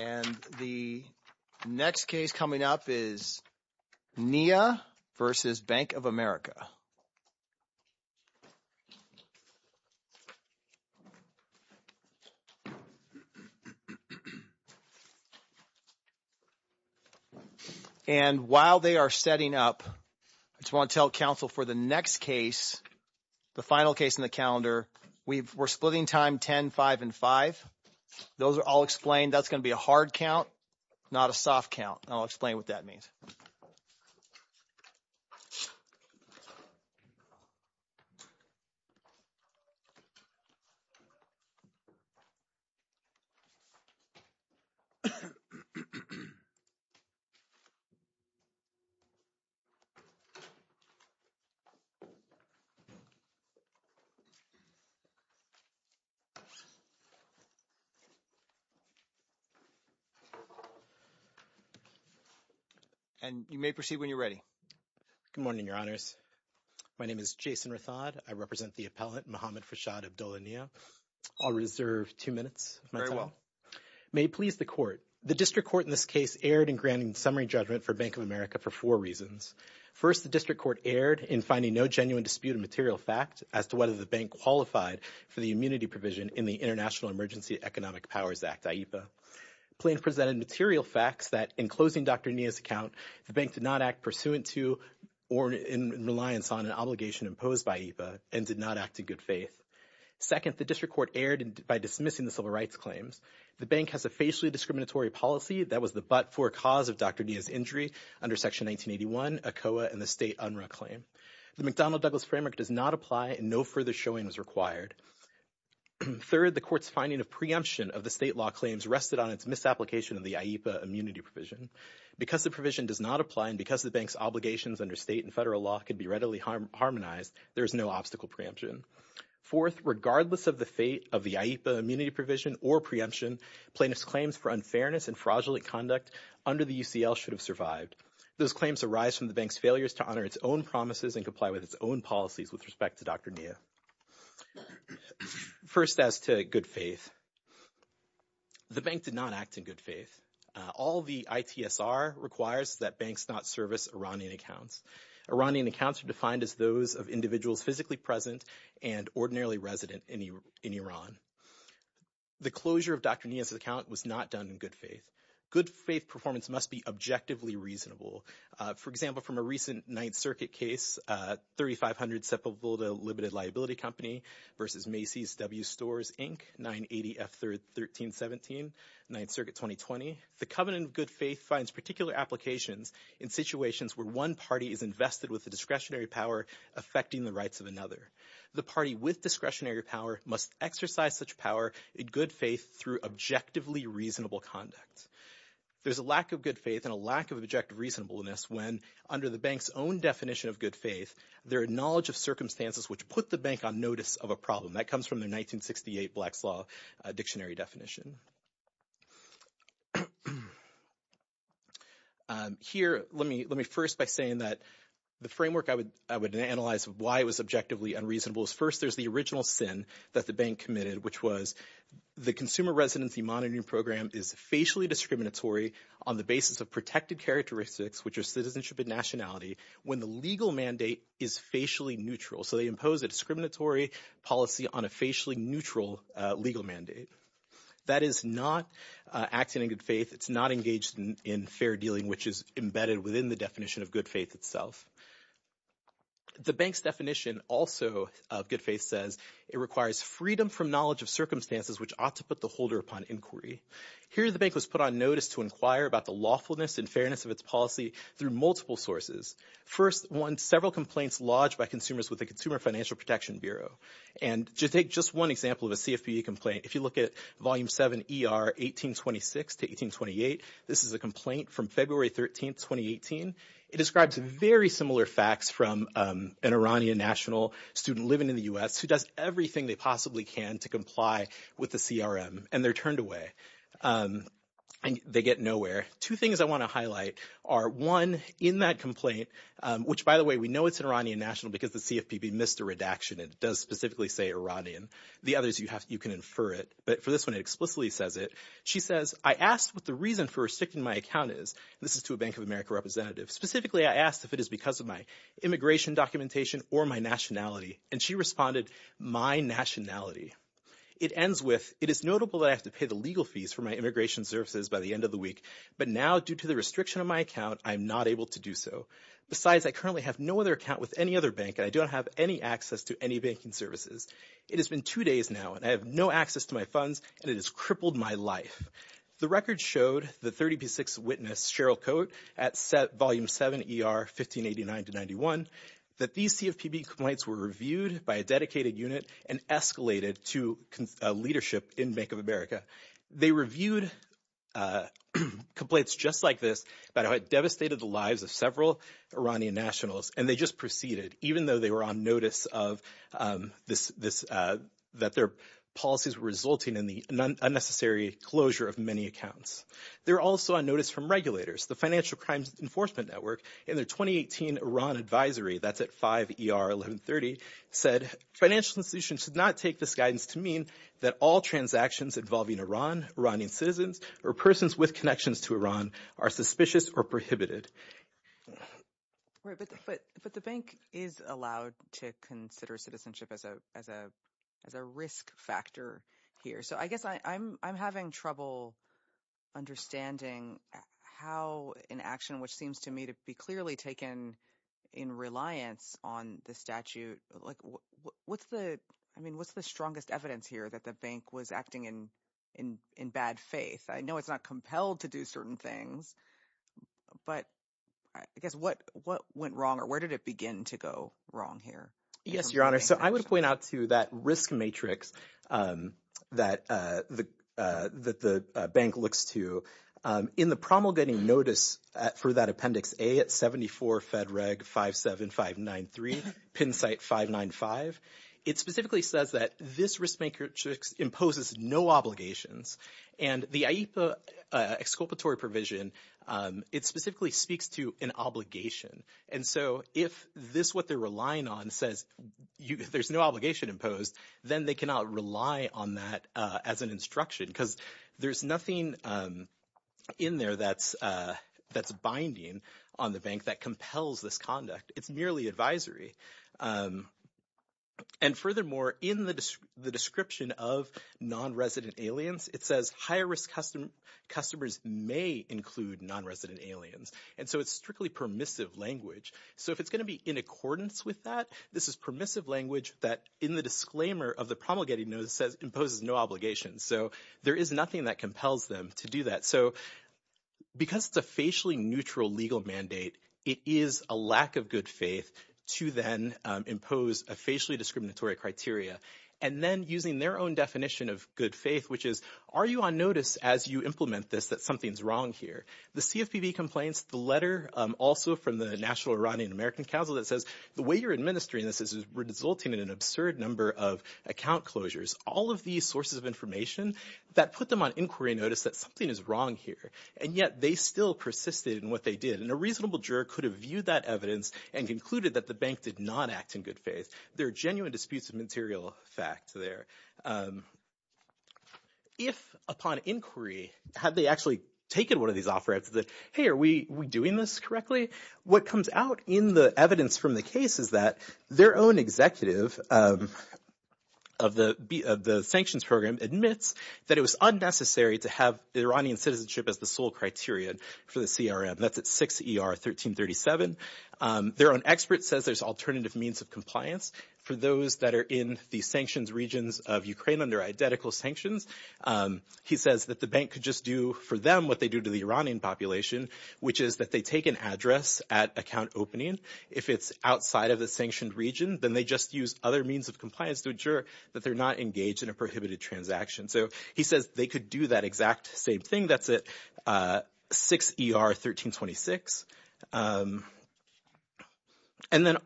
And the next case coming up is Nia versus Bank of America. And while they are setting up, I just want to tell counsel for the next case, the final case in the calendar, we're splitting time 10, 5, and 5. Those are all explained. That's going to be a hard count, not a soft count. I'll explain what that means. And you may proceed when you're ready. Good morning, Your Honors. My name is Jason Rathod. I represent the appellant, Mohamed Farshad Abdollah Nia. I'll reserve two minutes of my time. Very well. May it please the Court, the District Court in this case erred in granting summary judgment for Bank of America for four reasons. First, the District Court erred in finding no genuine dispute of material fact as to whether the bank qualified for the immunity provision in the International Emergency Economic Powers Act, IEPA. Plaintiff presented material facts that, in closing Dr. Nia's account, the bank did not act pursuant to or in reliance on an obligation imposed by IEPA and did not act in good faith. Second, the District Court erred by dismissing the civil rights claims. The bank has a facially discriminatory policy that was the but-for cause of Dr. Nia's injury under Section 1981, ACOA, and the state UNRRA claim. The McDonnell-Douglas framework does not apply and no further showing was required. Third, the Court's finding of preemption of the state law claims rested on its misapplication of the IEPA immunity provision. Because the provision does not apply and because the bank's obligations under state and federal law can be readily harmonized, there is no obstacle preemption. Fourth, regardless of the fate of the IEPA immunity provision or preemption, plaintiff's claims for unfairness and fraudulent conduct under the UCL should have survived. Those claims arise from the bank's failures to honor its own promises and comply with its own policies with respect to Dr. Nia. First, as to good faith, the bank did not act in good faith. All the ITSR requires is that banks not service Iranian accounts. Iranian accounts are defined as those of individuals physically present and ordinarily resident in Iran. The closure of Dr. Nia's account was not done in good faith. Good faith performance must be objectively reasonable. For example, from a recent Ninth Circuit case, 3500 Sepulveda Limited Liability Company v. Macy's W. Stores, Inc., 980 F. 1317, Ninth Circuit 2020, the covenant of good faith finds particular applications in situations where one party is invested with the discretionary power affecting the rights of another. The party with discretionary power must exercise such power in good faith through objectively reasonable conduct. There's a lack of good faith and a lack of objective reasonableness when, under the bank's own definition of good faith, there are knowledge of circumstances which put the bank on notice of a problem. That comes from the 1968 Black's Law Dictionary definition. Here, let me first by saying that the framework I would analyze why it was objectively unreasonable is first there's the original sin that the bank committed, which was the consumer residency monitoring program is facially discriminatory on the basis of protected characteristics, which are citizenship and nationality, when the legal mandate is facially neutral. So they impose a discriminatory policy on a facially neutral legal mandate. That is not acting in good faith. It's not engaged in fair dealing, which is embedded within the definition of good faith itself. The bank's definition also of good faith says it requires freedom from knowledge of circumstances which ought to put the holder upon inquiry. Here, the bank was put on notice to inquire about the lawfulness and fairness of its policy through multiple sources. First, one, several complaints lodged by consumers with the Consumer Financial Protection Bureau. And to take just one example of a CFPB complaint, if you look at Volume 7 ER 1826 to 1828, this is a complaint from February 13, 2018. It describes very similar facts from an Iranian national student living in the U.S. who does everything they possibly can to comply with the CRM. And they're turned away. And they get nowhere. Two things I want to highlight are, one, in that complaint, which, by the way, we know it's an Iranian national because the CFPB missed a redaction. It does specifically say Iranian. The others, you can infer it. But for this one, it explicitly says it. She says, I asked what the reason for restricting my account is. This is to a Bank of America representative. Specifically, I asked if it is because of my immigration documentation or my nationality. And she responded, my nationality. It ends with, it is notable that I have to pay the legal fees for my immigration services by the end of the week. But now, due to the restriction of my account, I'm not able to do so. Besides, I currently have no other account with any other bank, and I don't have any access to any banking services. It has been two days now, and I have no access to my funds, and it has crippled my life. The record showed the 30P6 witness, Cheryl Coate, at Volume 7 ER 1589-91, that these CFPB complaints were reviewed by a dedicated unit and escalated to leadership in Bank of America. They reviewed complaints just like this about how it devastated the lives of several Iranian nationals. And they just proceeded, even though they were on notice of this, that their policies were resulting in the unnecessary closure of many accounts. They were also on notice from regulators. The Financial Crimes Enforcement Network in their 2018 Iran advisory, that's at 5 ER 1130, said financial institutions should not take this guidance to mean that all transactions involving Iran, Iranian citizens, or persons with connections to Iran are suspicious or prohibited. Right, but the bank is allowed to consider citizenship as a risk factor here. So I guess I'm having trouble understanding how an action, which seems to me to be clearly taken in reliance on the statute – like what's the – I mean what's the strongest evidence here that the bank was acting in bad faith? I know it's not compelled to do certain things, but I guess what went wrong or where did it begin to go wrong here? Yes, Your Honor. So I would point out to that risk matrix that the bank looks to. In the promulgating notice for that Appendix A at 74 Fed Reg 57593, PIN site 595, it specifically says that this risk matrix imposes no obligations. And the IEPA exculpatory provision, it specifically speaks to an obligation. And so if this – what they're relying on says there's no obligation imposed, then they cannot rely on that as an instruction because there's nothing in there that's binding on the bank that compels this conduct. It's merely advisory. And furthermore, in the description of non-resident aliens, it says higher risk customers may include non-resident aliens. And so it's strictly permissive language. So if it's going to be in accordance with that, this is permissive language that in the disclaimer of the promulgating notice says imposes no obligations. So there is nothing that compels them to do that. So because it's a facially neutral legal mandate, it is a lack of good faith to then impose a facially discriminatory criteria. And then using their own definition of good faith, which is are you on notice as you implement this that something's wrong here? The CFPB complains, the letter also from the National Iranian American Council that says the way you're administering this is resulting in an absurd number of account closures. All of these sources of information that put them on inquiry notice that something is wrong here, and yet they still persisted in what they did. And a reasonable juror could have viewed that evidence and concluded that the bank did not act in good faith. There are genuine disputes of material fact there. If upon inquiry have they actually taken one of these offerings that, hey, are we doing this correctly? What comes out in the evidence from the case is that their own executive of the sanctions program admits that it was unnecessary to have Iranian citizenship as the sole criteria for the CRM. That's at 6 ER 1337. Their own expert says there's alternative means of compliance for those that are in the sanctions regions of Ukraine under identical sanctions. He says that the bank could just do for them what they do to the Iranian population, which is that they take an address at account opening. If it's outside of the sanctioned region, then they just use other means of compliance to ensure that they're not engaged in a prohibited transaction. So he says they could do that exact same thing. That's at 6 ER 1326. And then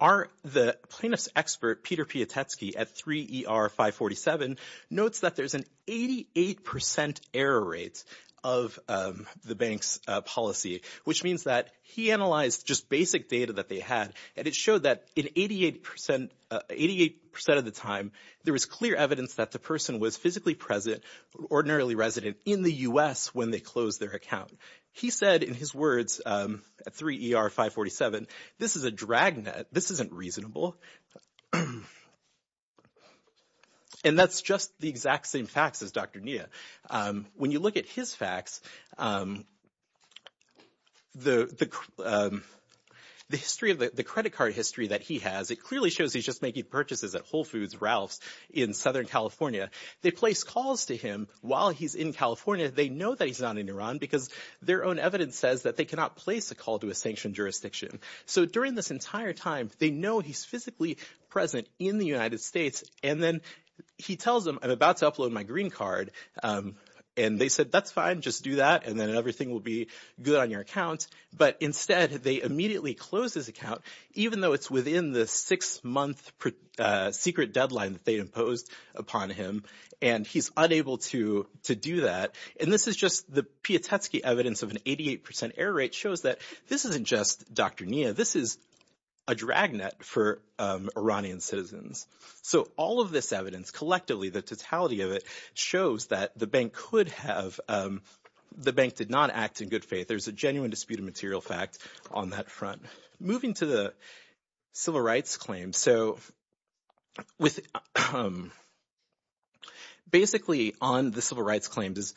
the plaintiff's expert, Peter Piotrowski, at 3 ER 547, notes that there's an 88 percent error rate of the bank's policy, which means that he analyzed just basic data that they had. And it showed that in 88 percent of the time, there was clear evidence that the person was physically present, ordinarily resident in the U.S. when they closed their account. He said in his words at 3 ER 547, this is a drag net. This isn't reasonable. And that's just the exact same facts as Dr. Nia. When you look at his facts, the history of the credit card history that he has, it clearly shows he's just making purchases at Whole Foods Ralph's in Southern California. They place calls to him while he's in California. They know that he's not in Iran because their own evidence says that they cannot place a call to a sanctioned jurisdiction. So during this entire time, they know he's physically present in the United States. And then he tells them, I'm about to upload my green card. And they said, that's fine. Just do that, and then everything will be good on your account. But instead, they immediately closed his account, even though it's within the six-month secret deadline that they imposed upon him. And he's unable to do that. And this is just the Piotrowski evidence of an 88 percent error rate shows that this isn't just Dr. Nia. This is a drag net for Iranian citizens. So all of this evidence, collectively, the totality of it, shows that the bank could have – the bank did not act in good faith. There's a genuine dispute of material fact on that front. Moving to the civil rights claim. So with – basically, on the civil rights claims,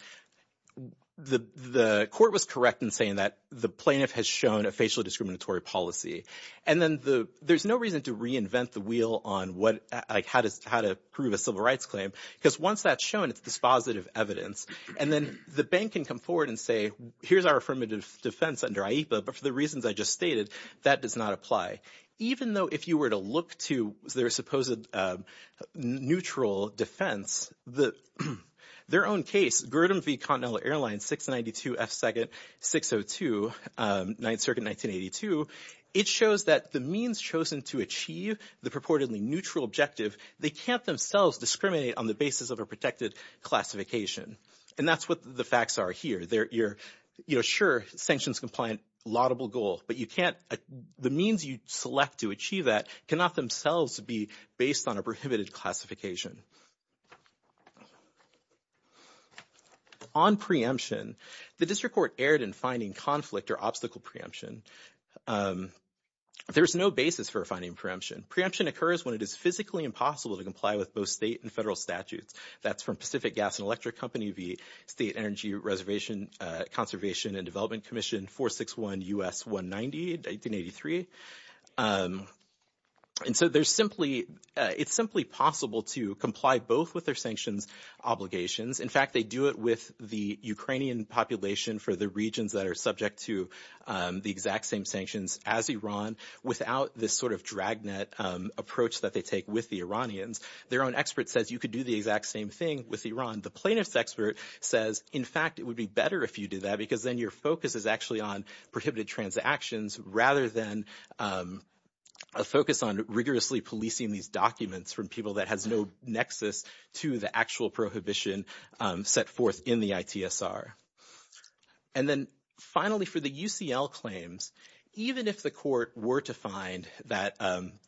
the court was correct in saying that the plaintiff has shown a facially discriminatory policy. And then the – there's no reason to reinvent the wheel on what – like how to prove a civil rights claim, because once that's shown, it's dispositive evidence. And then the bank can come forward and say, here's our affirmative defense under IEPA, but for the reasons I just stated, that does not apply. Even though if you were to look to their supposed neutral defense, their own case, Gurdon v. Continental Airlines, 692 F. 2nd, 602, 9th Circuit, 1982. It shows that the means chosen to achieve the purportedly neutral objective, they can't themselves discriminate on the basis of a protected classification. And that's what the facts are here. They're – sure, sanctions compliant, laudable goal, but you can't – the means you select to achieve that cannot themselves be based on a prohibited classification. On preemption, the district court erred in finding conflict or obstacle preemption. There's no basis for finding preemption. Preemption occurs when it is physically impossible to comply with both state and federal statutes. That's from Pacific Gas and Electric Company v. State Energy Reservation Conservation and Development Commission, 461 U.S. 190, 1983. And so there's simply – it's simply possible to comply both with their sanctions obligations. In fact, they do it with the Ukrainian population for the regions that are subject to the exact same sanctions as Iran without this sort of dragnet approach that they take with the Iranians. Their own expert says you could do the exact same thing with Iran. And the plaintiff's expert says, in fact, it would be better if you did that because then your focus is actually on prohibited transactions rather than a focus on rigorously policing these documents from people that has no nexus to the actual prohibition set forth in the ITSR. And then finally for the UCL claims, even if the court were to find that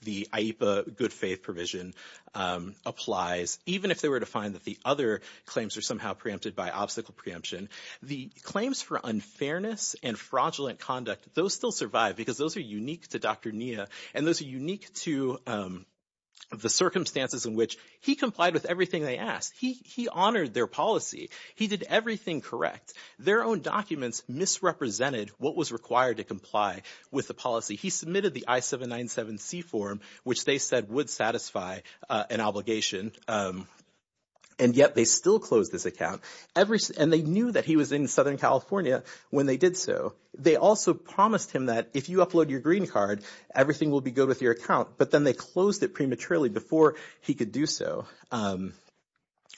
the IEPA good faith provision applies, even if they were to find that the other claims are somehow preempted by obstacle preemption, the claims for unfairness and fraudulent conduct, those still survive because those are unique to Dr. Nia. And those are unique to the circumstances in which he complied with everything they asked. He honored their policy. He did everything correct. Their own documents misrepresented what was required to comply with the policy. He submitted the I-797C form, which they said would satisfy an obligation. And yet they still closed this account. And they knew that he was in Southern California when they did so. They also promised him that if you upload your green card, everything will be good with your account. But then they closed it prematurely before he could do so.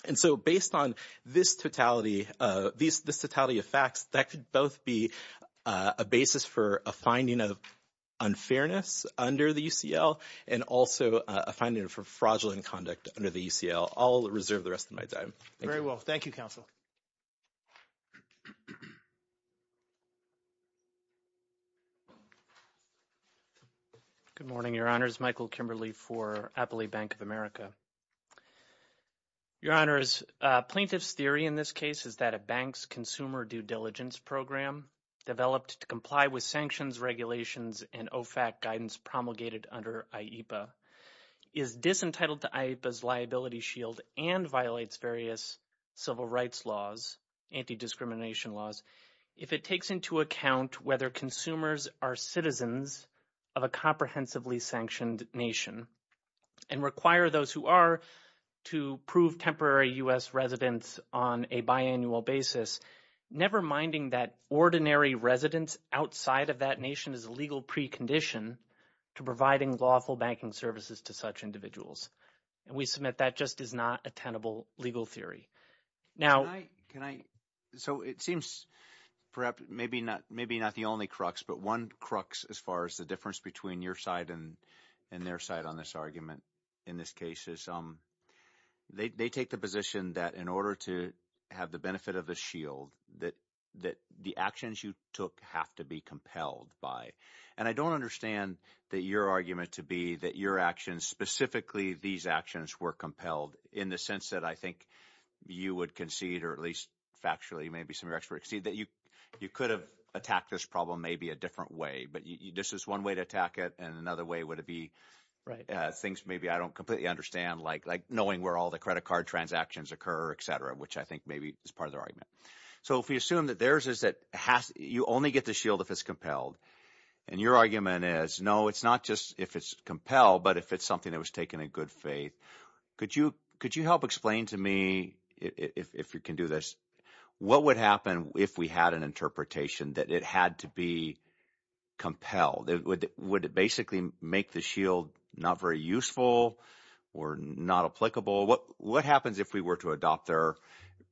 And so based on this totality of facts, that could both be a basis for a finding of unfairness under the UCL and also a finding for fraudulent conduct under the UCL. I'll reserve the rest of my time. Very well. Thank you, counsel. Good morning, Your Honors. My name is Michael Kimberly for Appley Bank of America. Your Honors, plaintiff's theory in this case is that a bank's consumer due diligence program developed to comply with sanctions, regulations, and OFAC guidance promulgated under IEPA is disentitled to IEPA's liability shield and violates various civil rights laws, anti-discrimination laws. If it takes into account whether consumers are citizens of a comprehensively sanctioned nation and require those who are to prove temporary U.S. residents on a biannual basis, never minding that ordinary residents outside of that nation is a legal precondition to providing lawful banking services to such individuals. And we submit that just is not a tenable legal theory. Can I – so it seems perhaps maybe not the only crux, but one crux as far as the difference between your side and their side on this argument in this case is they take the position that in order to have the benefit of a shield, that the actions you took have to be compelled by. And I don't understand that your argument to be that your actions, specifically these actions, were compelled in the sense that I think you would concede or at least factually maybe some of your experts concede that you could have attacked this problem maybe a different way. But this is one way to attack it, and another way would it be things maybe I don't completely understand like knowing where all the credit card transactions occur, etc., which I think maybe is part of their argument. So if we assume that theirs is that – you only get the shield if it's compelled, and your argument is no, it's not just if it's compelled but if it's something that was taken in good faith. Could you help explain to me if you can do this what would happen if we had an interpretation that it had to be compelled? Would it basically make the shield not very useful or not applicable? What happens if we were to adopt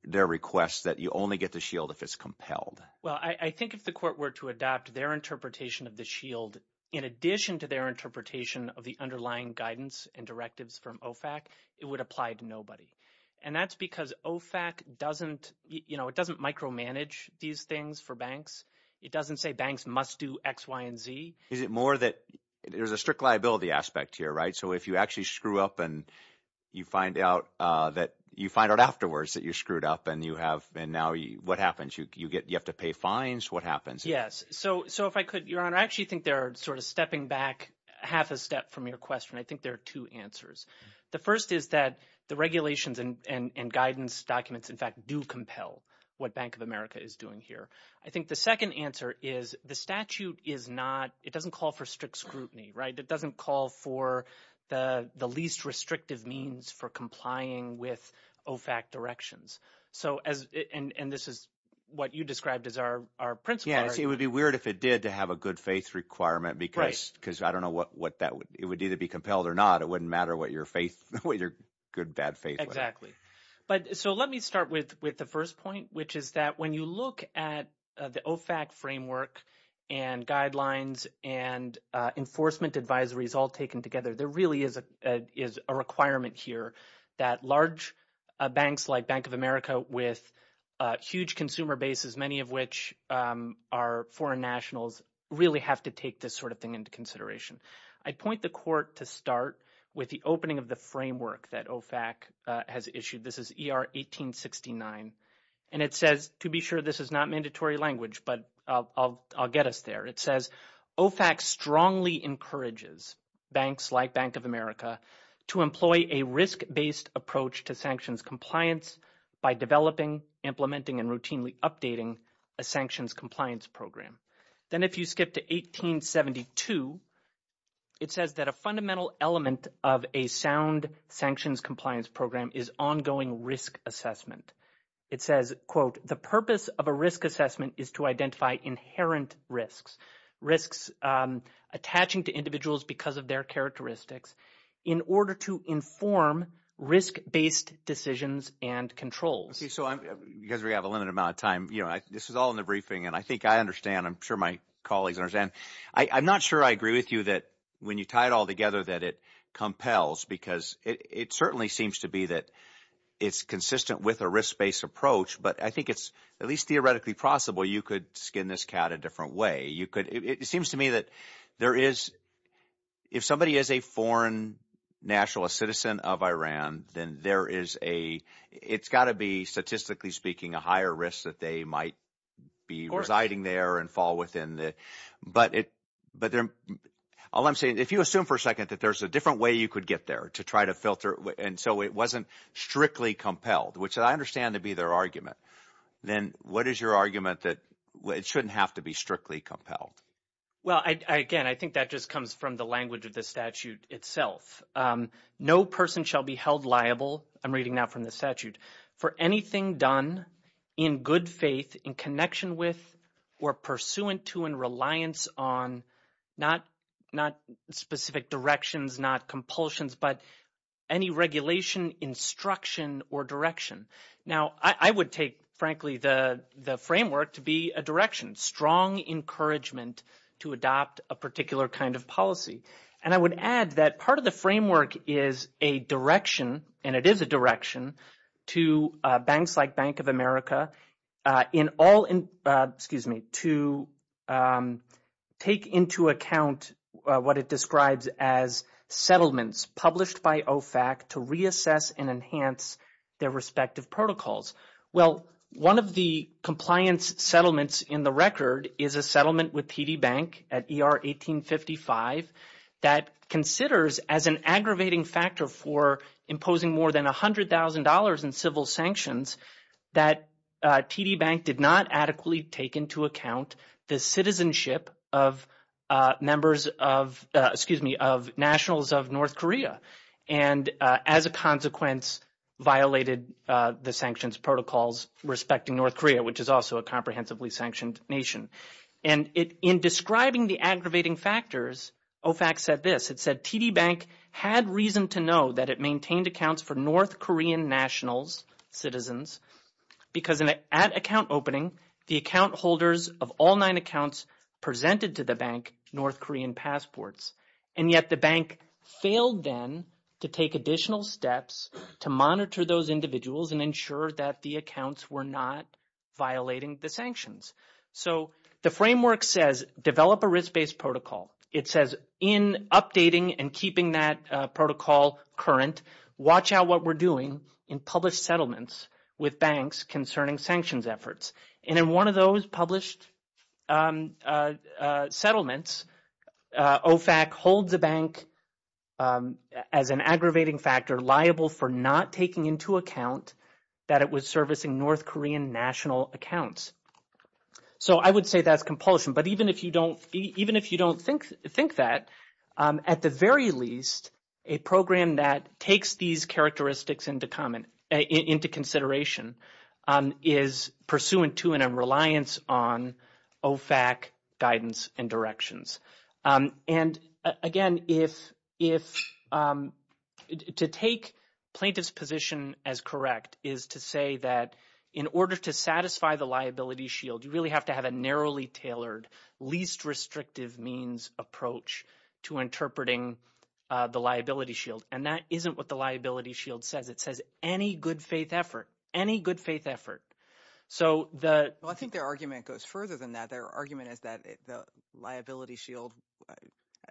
their request that you only get the shield if it's compelled? Well, I think if the court were to adopt their interpretation of the shield in addition to their interpretation of the underlying guidance and directives from OFAC, it would apply to nobody. And that's because OFAC doesn't – it doesn't micromanage these things for banks. It doesn't say banks must do X, Y, and Z. Is it more that there's a strict liability aspect here, right? So if you actually screw up and you find out that – you find out afterwards that you screwed up and you have – and now what happens? You have to pay fines. What happens? Yes. So if I could, Your Honor, I actually think they're sort of stepping back half a step from your question. I think there are two answers. The first is that the regulations and guidance documents, in fact, do compel what Bank of America is doing here. I think the second answer is the statute is not – it doesn't call for strict scrutiny. It doesn't call for the least restrictive means for complying with OFAC directions. So as – and this is what you described as our principle. See, it would be weird if it did to have a good-faith requirement because I don't know what that – it would either be compelled or not. It wouldn't matter what your faith – what your good, bad faith was. Exactly. But – so let me start with the first point, which is that when you look at the OFAC framework and guidelines and enforcement advisories all taken together, there really is a requirement here that large banks like Bank of America with huge consumer bases, many of which are foreign nationals, really have to take this sort of thing into consideration. I'd point the court to start with the opening of the framework that OFAC has issued. This is ER 1869. And it says – to be sure, this is not mandatory language, but I'll get us there. It says OFAC strongly encourages banks like Bank of America to employ a risk-based approach to sanctions compliance by developing, implementing, and routinely updating a sanctions compliance program. Then if you skip to 1872, it says that a fundamental element of a sound sanctions compliance program is ongoing risk assessment. It says, quote, the purpose of a risk assessment is to identify inherent risks, risks attaching to individuals because of their characteristics in order to inform risk-based decisions and controls. So because we have a limited amount of time, this is all in the briefing, and I think I understand. I'm sure my colleagues understand. I'm not sure I agree with you that when you tie it all together that it compels because it certainly seems to be that it's consistent with a risk-based approach. But I think it's at least theoretically possible you could skin this cat a different way. You could – it seems to me that there is – if somebody is a foreign nationalist citizen of Iran, then there is a – it's got to be, statistically speaking, a higher risk that they might be residing there and fall within the – but there – all I'm saying, if you assume for a second that there's a different way you could get there to try to filter, and so it wasn't strictly compelled, which I understand to be their argument, then what is your argument that it shouldn't have to be strictly compelled? Well, again, I think that just comes from the language of the statute itself. No person shall be held liable – I'm reading now from the statute – for anything done in good faith, in connection with, or pursuant to, and reliance on, not specific directions, not compulsions, but any regulation, instruction, or direction. Now, I would take, frankly, the framework to be a direction, strong encouragement to adopt a particular kind of policy. Well, one of the compliance settlements in the record is a settlement with TD Bank at ER 1855 that considers as an aggravating factor for imposing more than $100,000 in civil sanctions that TD Bank did not adequately take into account the citizenship of members of – excuse me, of nationals of North Korea. And as a consequence, violated the sanctions protocols respecting North Korea, which is also a comprehensively sanctioned nation. And in describing the aggravating factors, OFAC said this. It said TD Bank had reason to know that it maintained accounts for North Korean nationals, citizens, because at account opening, the account holders of all nine accounts presented to the bank North Korean passports. And yet the bank failed then to take additional steps to monitor those individuals and ensure that the accounts were not violating the sanctions. So the framework says develop a risk-based protocol. It says in updating and keeping that protocol current, watch out what we're doing in published settlements with banks concerning sanctions efforts. And in one of those published settlements, OFAC holds a bank as an aggravating factor liable for not taking into account that it was servicing North Korean national accounts. So I would say that's compulsion. But even if you don't think that, at the very least, a program that takes these characteristics into consideration is pursuant to and in reliance on OFAC guidance and directions. And again, to take plaintiff's position as correct is to say that in order to satisfy the liability shield, you really have to have a narrowly tailored, least restrictive means approach to interpreting the liability shield. And that isn't what the liability shield says. It says any good-faith effort, any good-faith effort. Well, I think their argument goes further than that. Their argument is that the liability shield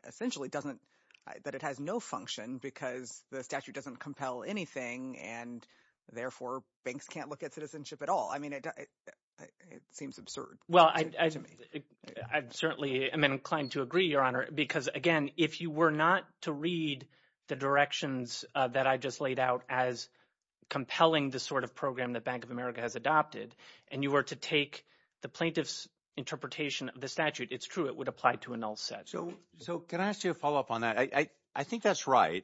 essentially doesn't – that it has no function because the statute doesn't compel anything and, therefore, banks can't look at citizenship at all. I mean it seems absurd to me. I certainly am inclined to agree, Your Honor, because, again, if you were not to read the directions that I just laid out as compelling the sort of program that Bank of America has adopted and you were to take the plaintiff's interpretation of the statute, it's true it would apply to a null set. So can I ask you a follow-up on that? I think that's right,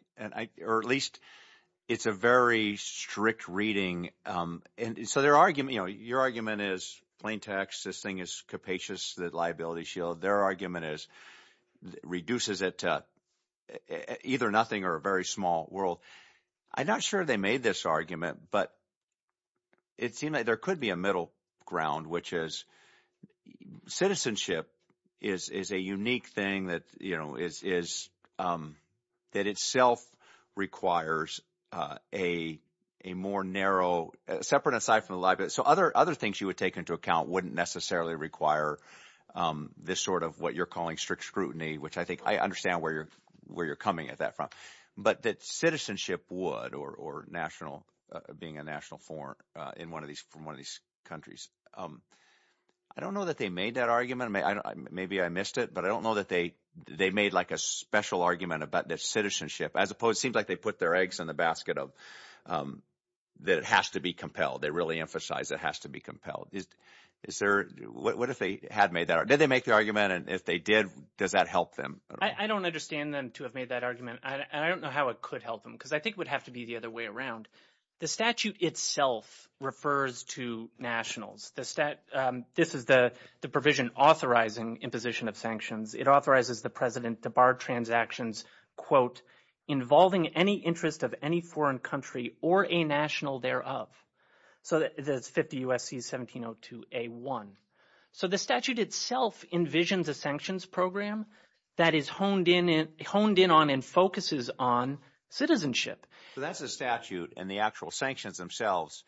or at least it's a very strict reading. And so their – your argument is plain text. This thing is capacious, the liability shield. Their argument is it reduces it to either nothing or a very small world. I'm not sure they made this argument, but it seemed like there could be a middle ground, which is citizenship is a unique thing that is – that itself requires a more narrow – separate and aside from the liability. So other things you would take into account wouldn't necessarily require this sort of what you're calling strict scrutiny, which I think I understand where you're coming at that from. But that citizenship would or national – being a national form in one of these – from one of these countries. I don't know that they made that argument. Maybe I missed it, but I don't know that they made like a special argument about the citizenship as opposed – it seems like they put their eggs in the basket of that it has to be compelled. They really emphasize it has to be compelled. Is there – what if they had made that argument? Did they make the argument? And if they did, does that help them? I don't understand them to have made that argument, and I don't know how it could help them because I think it would have to be the other way around. The statute itself refers to nationals. This is the provision authorizing imposition of sanctions. It authorizes the president to bar transactions, quote, involving any interest of any foreign country or a national thereof. So that's 50 U.S.C. 1702a1. So the statute itself envisions a sanctions program that is honed in on and focuses on citizenship. So that's a statute, and the actual sanctions themselves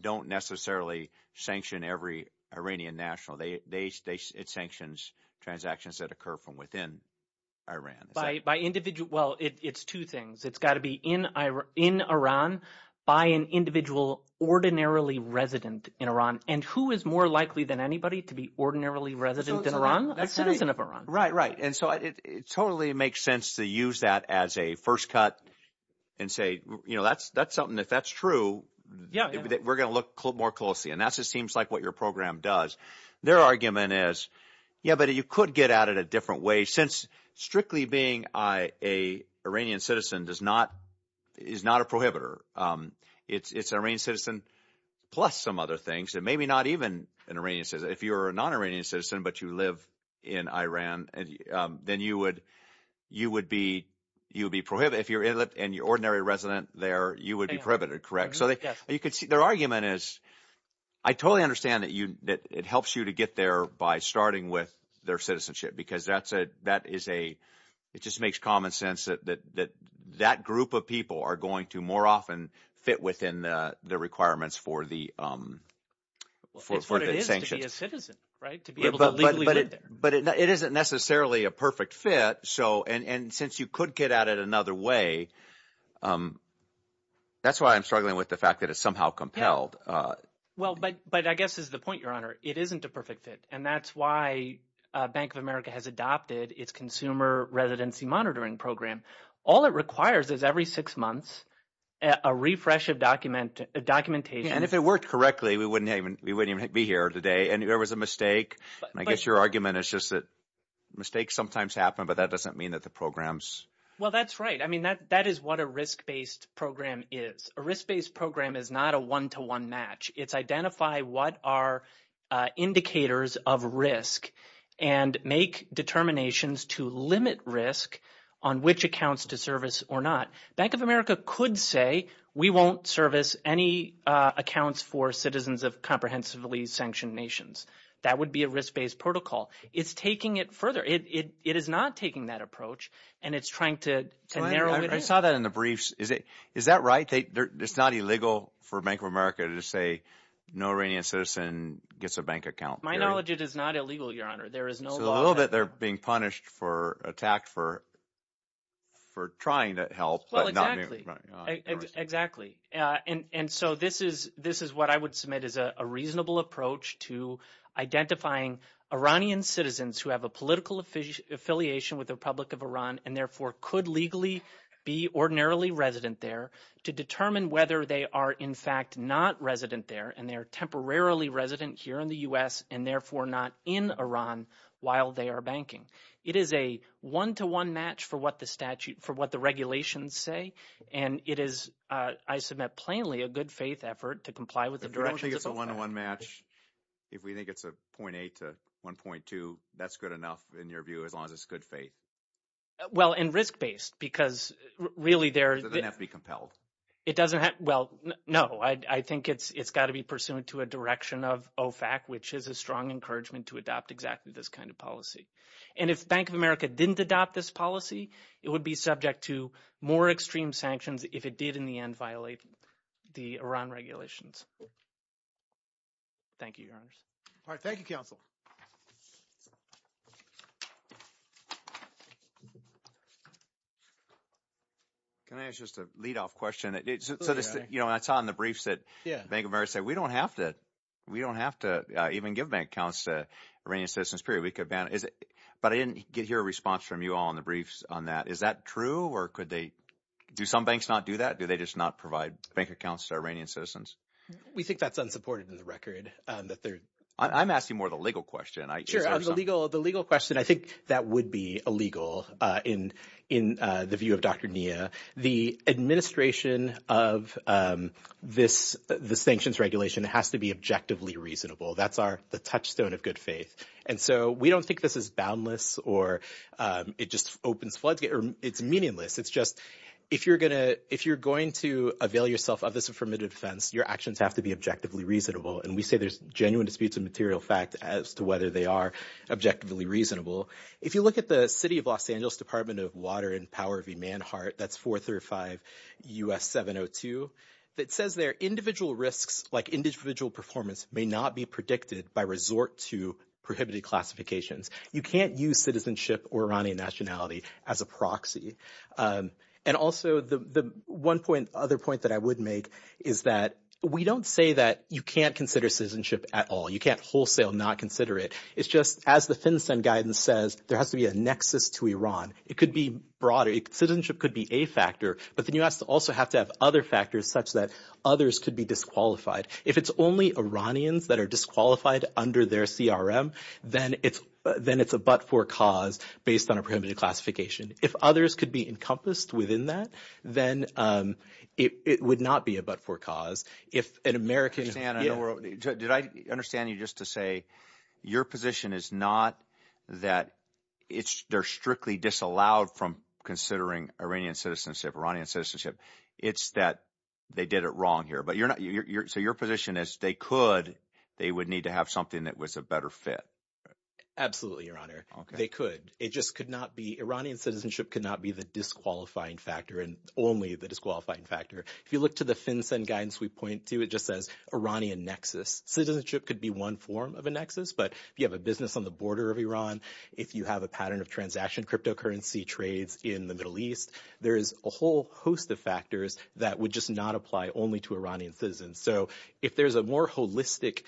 don't necessarily sanction every Iranian national. It sanctions transactions that occur from within Iran. By individual – well, it's two things. It's got to be in Iran by an individual ordinarily resident in Iran, and who is more likely than anybody to be ordinarily resident in Iran? A citizen of Iran. Right, right, and so it totally makes sense to use that as a first cut and say that's something. If that's true, we're going to look more closely, and that just seems like what your program does. Their argument is, yeah, but you could get at it a different way since strictly being an Iranian citizen does not – is not a prohibitor. It's an Iranian citizen plus some other things, and maybe not even an Iranian citizen. If you're a non-Iranian citizen but you live in Iran, then you would be – you would be – if you're an ordinary resident there, you would be prohibited, correct? So you could see their argument is I totally understand that it helps you to get there by starting with their citizenship because that is a – it just makes common sense that that group of people are going to more often fit within the requirements for the sanctions. It's what it is to be a citizen, right, to be able to legally live there. But it isn't necessarily a perfect fit, so – and since you could get at it another way, that's why I'm struggling with the fact that it's somehow compelled. Well, but I guess it's the point, Your Honor. It isn't a perfect fit, and that's why Bank of America has adopted its Consumer Residency Monitoring Program. All it requires is every six months a refresh of documentation. And if it worked correctly, we wouldn't even be here today and there was a mistake. I guess your argument is just that mistakes sometimes happen, but that doesn't mean that the programs – Well, that's right. I mean that is what a risk-based program is. A risk-based program is not a one-to-one match. It's identify what are indicators of risk and make determinations to limit risk on which accounts to service or not. Bank of America could say we won't service any accounts for citizens of comprehensively sanctioned nations. That would be a risk-based protocol. It's taking it further. It is not taking that approach, and it's trying to narrow it down. I saw that in the briefs. Is that right? It's not illegal for Bank of America to say no Iranian citizen gets a bank account. To my knowledge, it is not illegal, Your Honor. So a little bit they're being punished for – attacked for trying to help but not – Well, exactly. Exactly. And so this is what I would submit as a reasonable approach to identifying Iranian citizens who have a political affiliation with the Republic of Iran and therefore could legally be ordinarily resident there to determine whether they are in fact not resident there and they are temporarily resident here in the U.S. and therefore not in Iran while they are banking. It is a one-to-one match for what the statute – for what the regulations say, and it is, I submit plainly, a good-faith effort to comply with the directions of both sides. But you don't think it's a one-to-one match if we think it's a 0.8 to 1.2. That's good enough in your view as long as it's good faith? Well, and risk-based because really there – It doesn't have to be compelled. It doesn't have – well, no. I think it's got to be pursuant to a direction of OFAC, which is a strong encouragement to adopt exactly this kind of policy. And if Bank of America didn't adopt this policy, it would be subject to more extreme sanctions if it did in the end violate the Iran regulations. Thank you, Your Honors. All right. Thank you, Counsel. Can I ask just a lead-off question? Absolutely, Your Honor. So I saw in the briefs that Bank of America said we don't have to – we don't have to even give bank accounts to Iranian citizens, period. We could ban – but I didn't hear a response from you all in the briefs on that. Is that true or could they – do some banks not do that? Do they just not provide bank accounts to Iranian citizens? We think that's unsupported in the record, that they're – I'm asking more the legal question. Sure, the legal question. I think that would be illegal in the view of Dr. Nia. The administration of this sanctions regulation has to be objectively reasonable. That's the touchstone of good faith. And so we don't think this is boundless or it just opens floods – it's meaningless. It's just if you're going to avail yourself of this formative defense, your actions have to be objectively reasonable. And we say there's genuine disputes of material fact as to whether they are objectively reasonable. If you look at the city of Los Angeles Department of Water and Power v. Manhart, that's 435 U.S. 702, it says there individual risks like individual performance may not be predicted by resort to prohibited classifications. You can't use citizenship or Iranian nationality as a proxy. And also the one point – other point that I would make is that we don't say that you can't consider citizenship at all. You can't wholesale not consider it. It's just as the FinCEN guidance says, there has to be a nexus to Iran. It could be broader. Citizenship could be a factor, but the U.S. also has to have other factors such that others could be disqualified. If it's only Iranians that are disqualified under their CRM, then it's a but-for cause based on a prohibited classification. If others could be encompassed within that, then it would not be a but-for cause. If an American – Did I understand you just to say your position is not that it's – they're strictly disallowed from considering Iranian citizenship, Iranian citizenship. It's that they did it wrong here. But you're not – so your position is they could – they would need to have something that was a better fit. Absolutely, Your Honor. They could. It just could not be – Iranian citizenship could not be the disqualifying factor and only the disqualifying factor. If you look to the FinCEN guidance we point to, it just says Iranian nexus. Citizenship could be one form of a nexus, but if you have a business on the border of Iran, if you have a pattern of transaction cryptocurrency trades in the Middle East, there is a whole host of factors that would just not apply only to Iranian citizens. So if there's a more holistic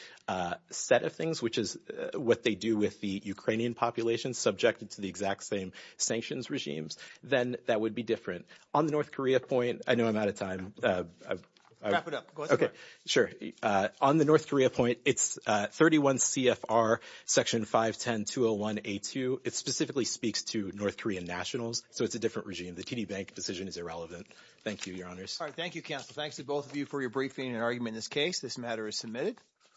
set of things, which is what they do with the Ukrainian population subjected to the exact same sanctions regimes, then that would be different. On the North Korea point – I know I'm out of time. Wrap it up. Go ahead. Okay. Sure. On the North Korea point, it's 31 CFR Section 510-201A2. It specifically speaks to North Korean nationals, so it's a different regime. The TD Bank decision is irrelevant. Thank you, Your Honors. All right. That concludes our argument in this case. This matter is submitted.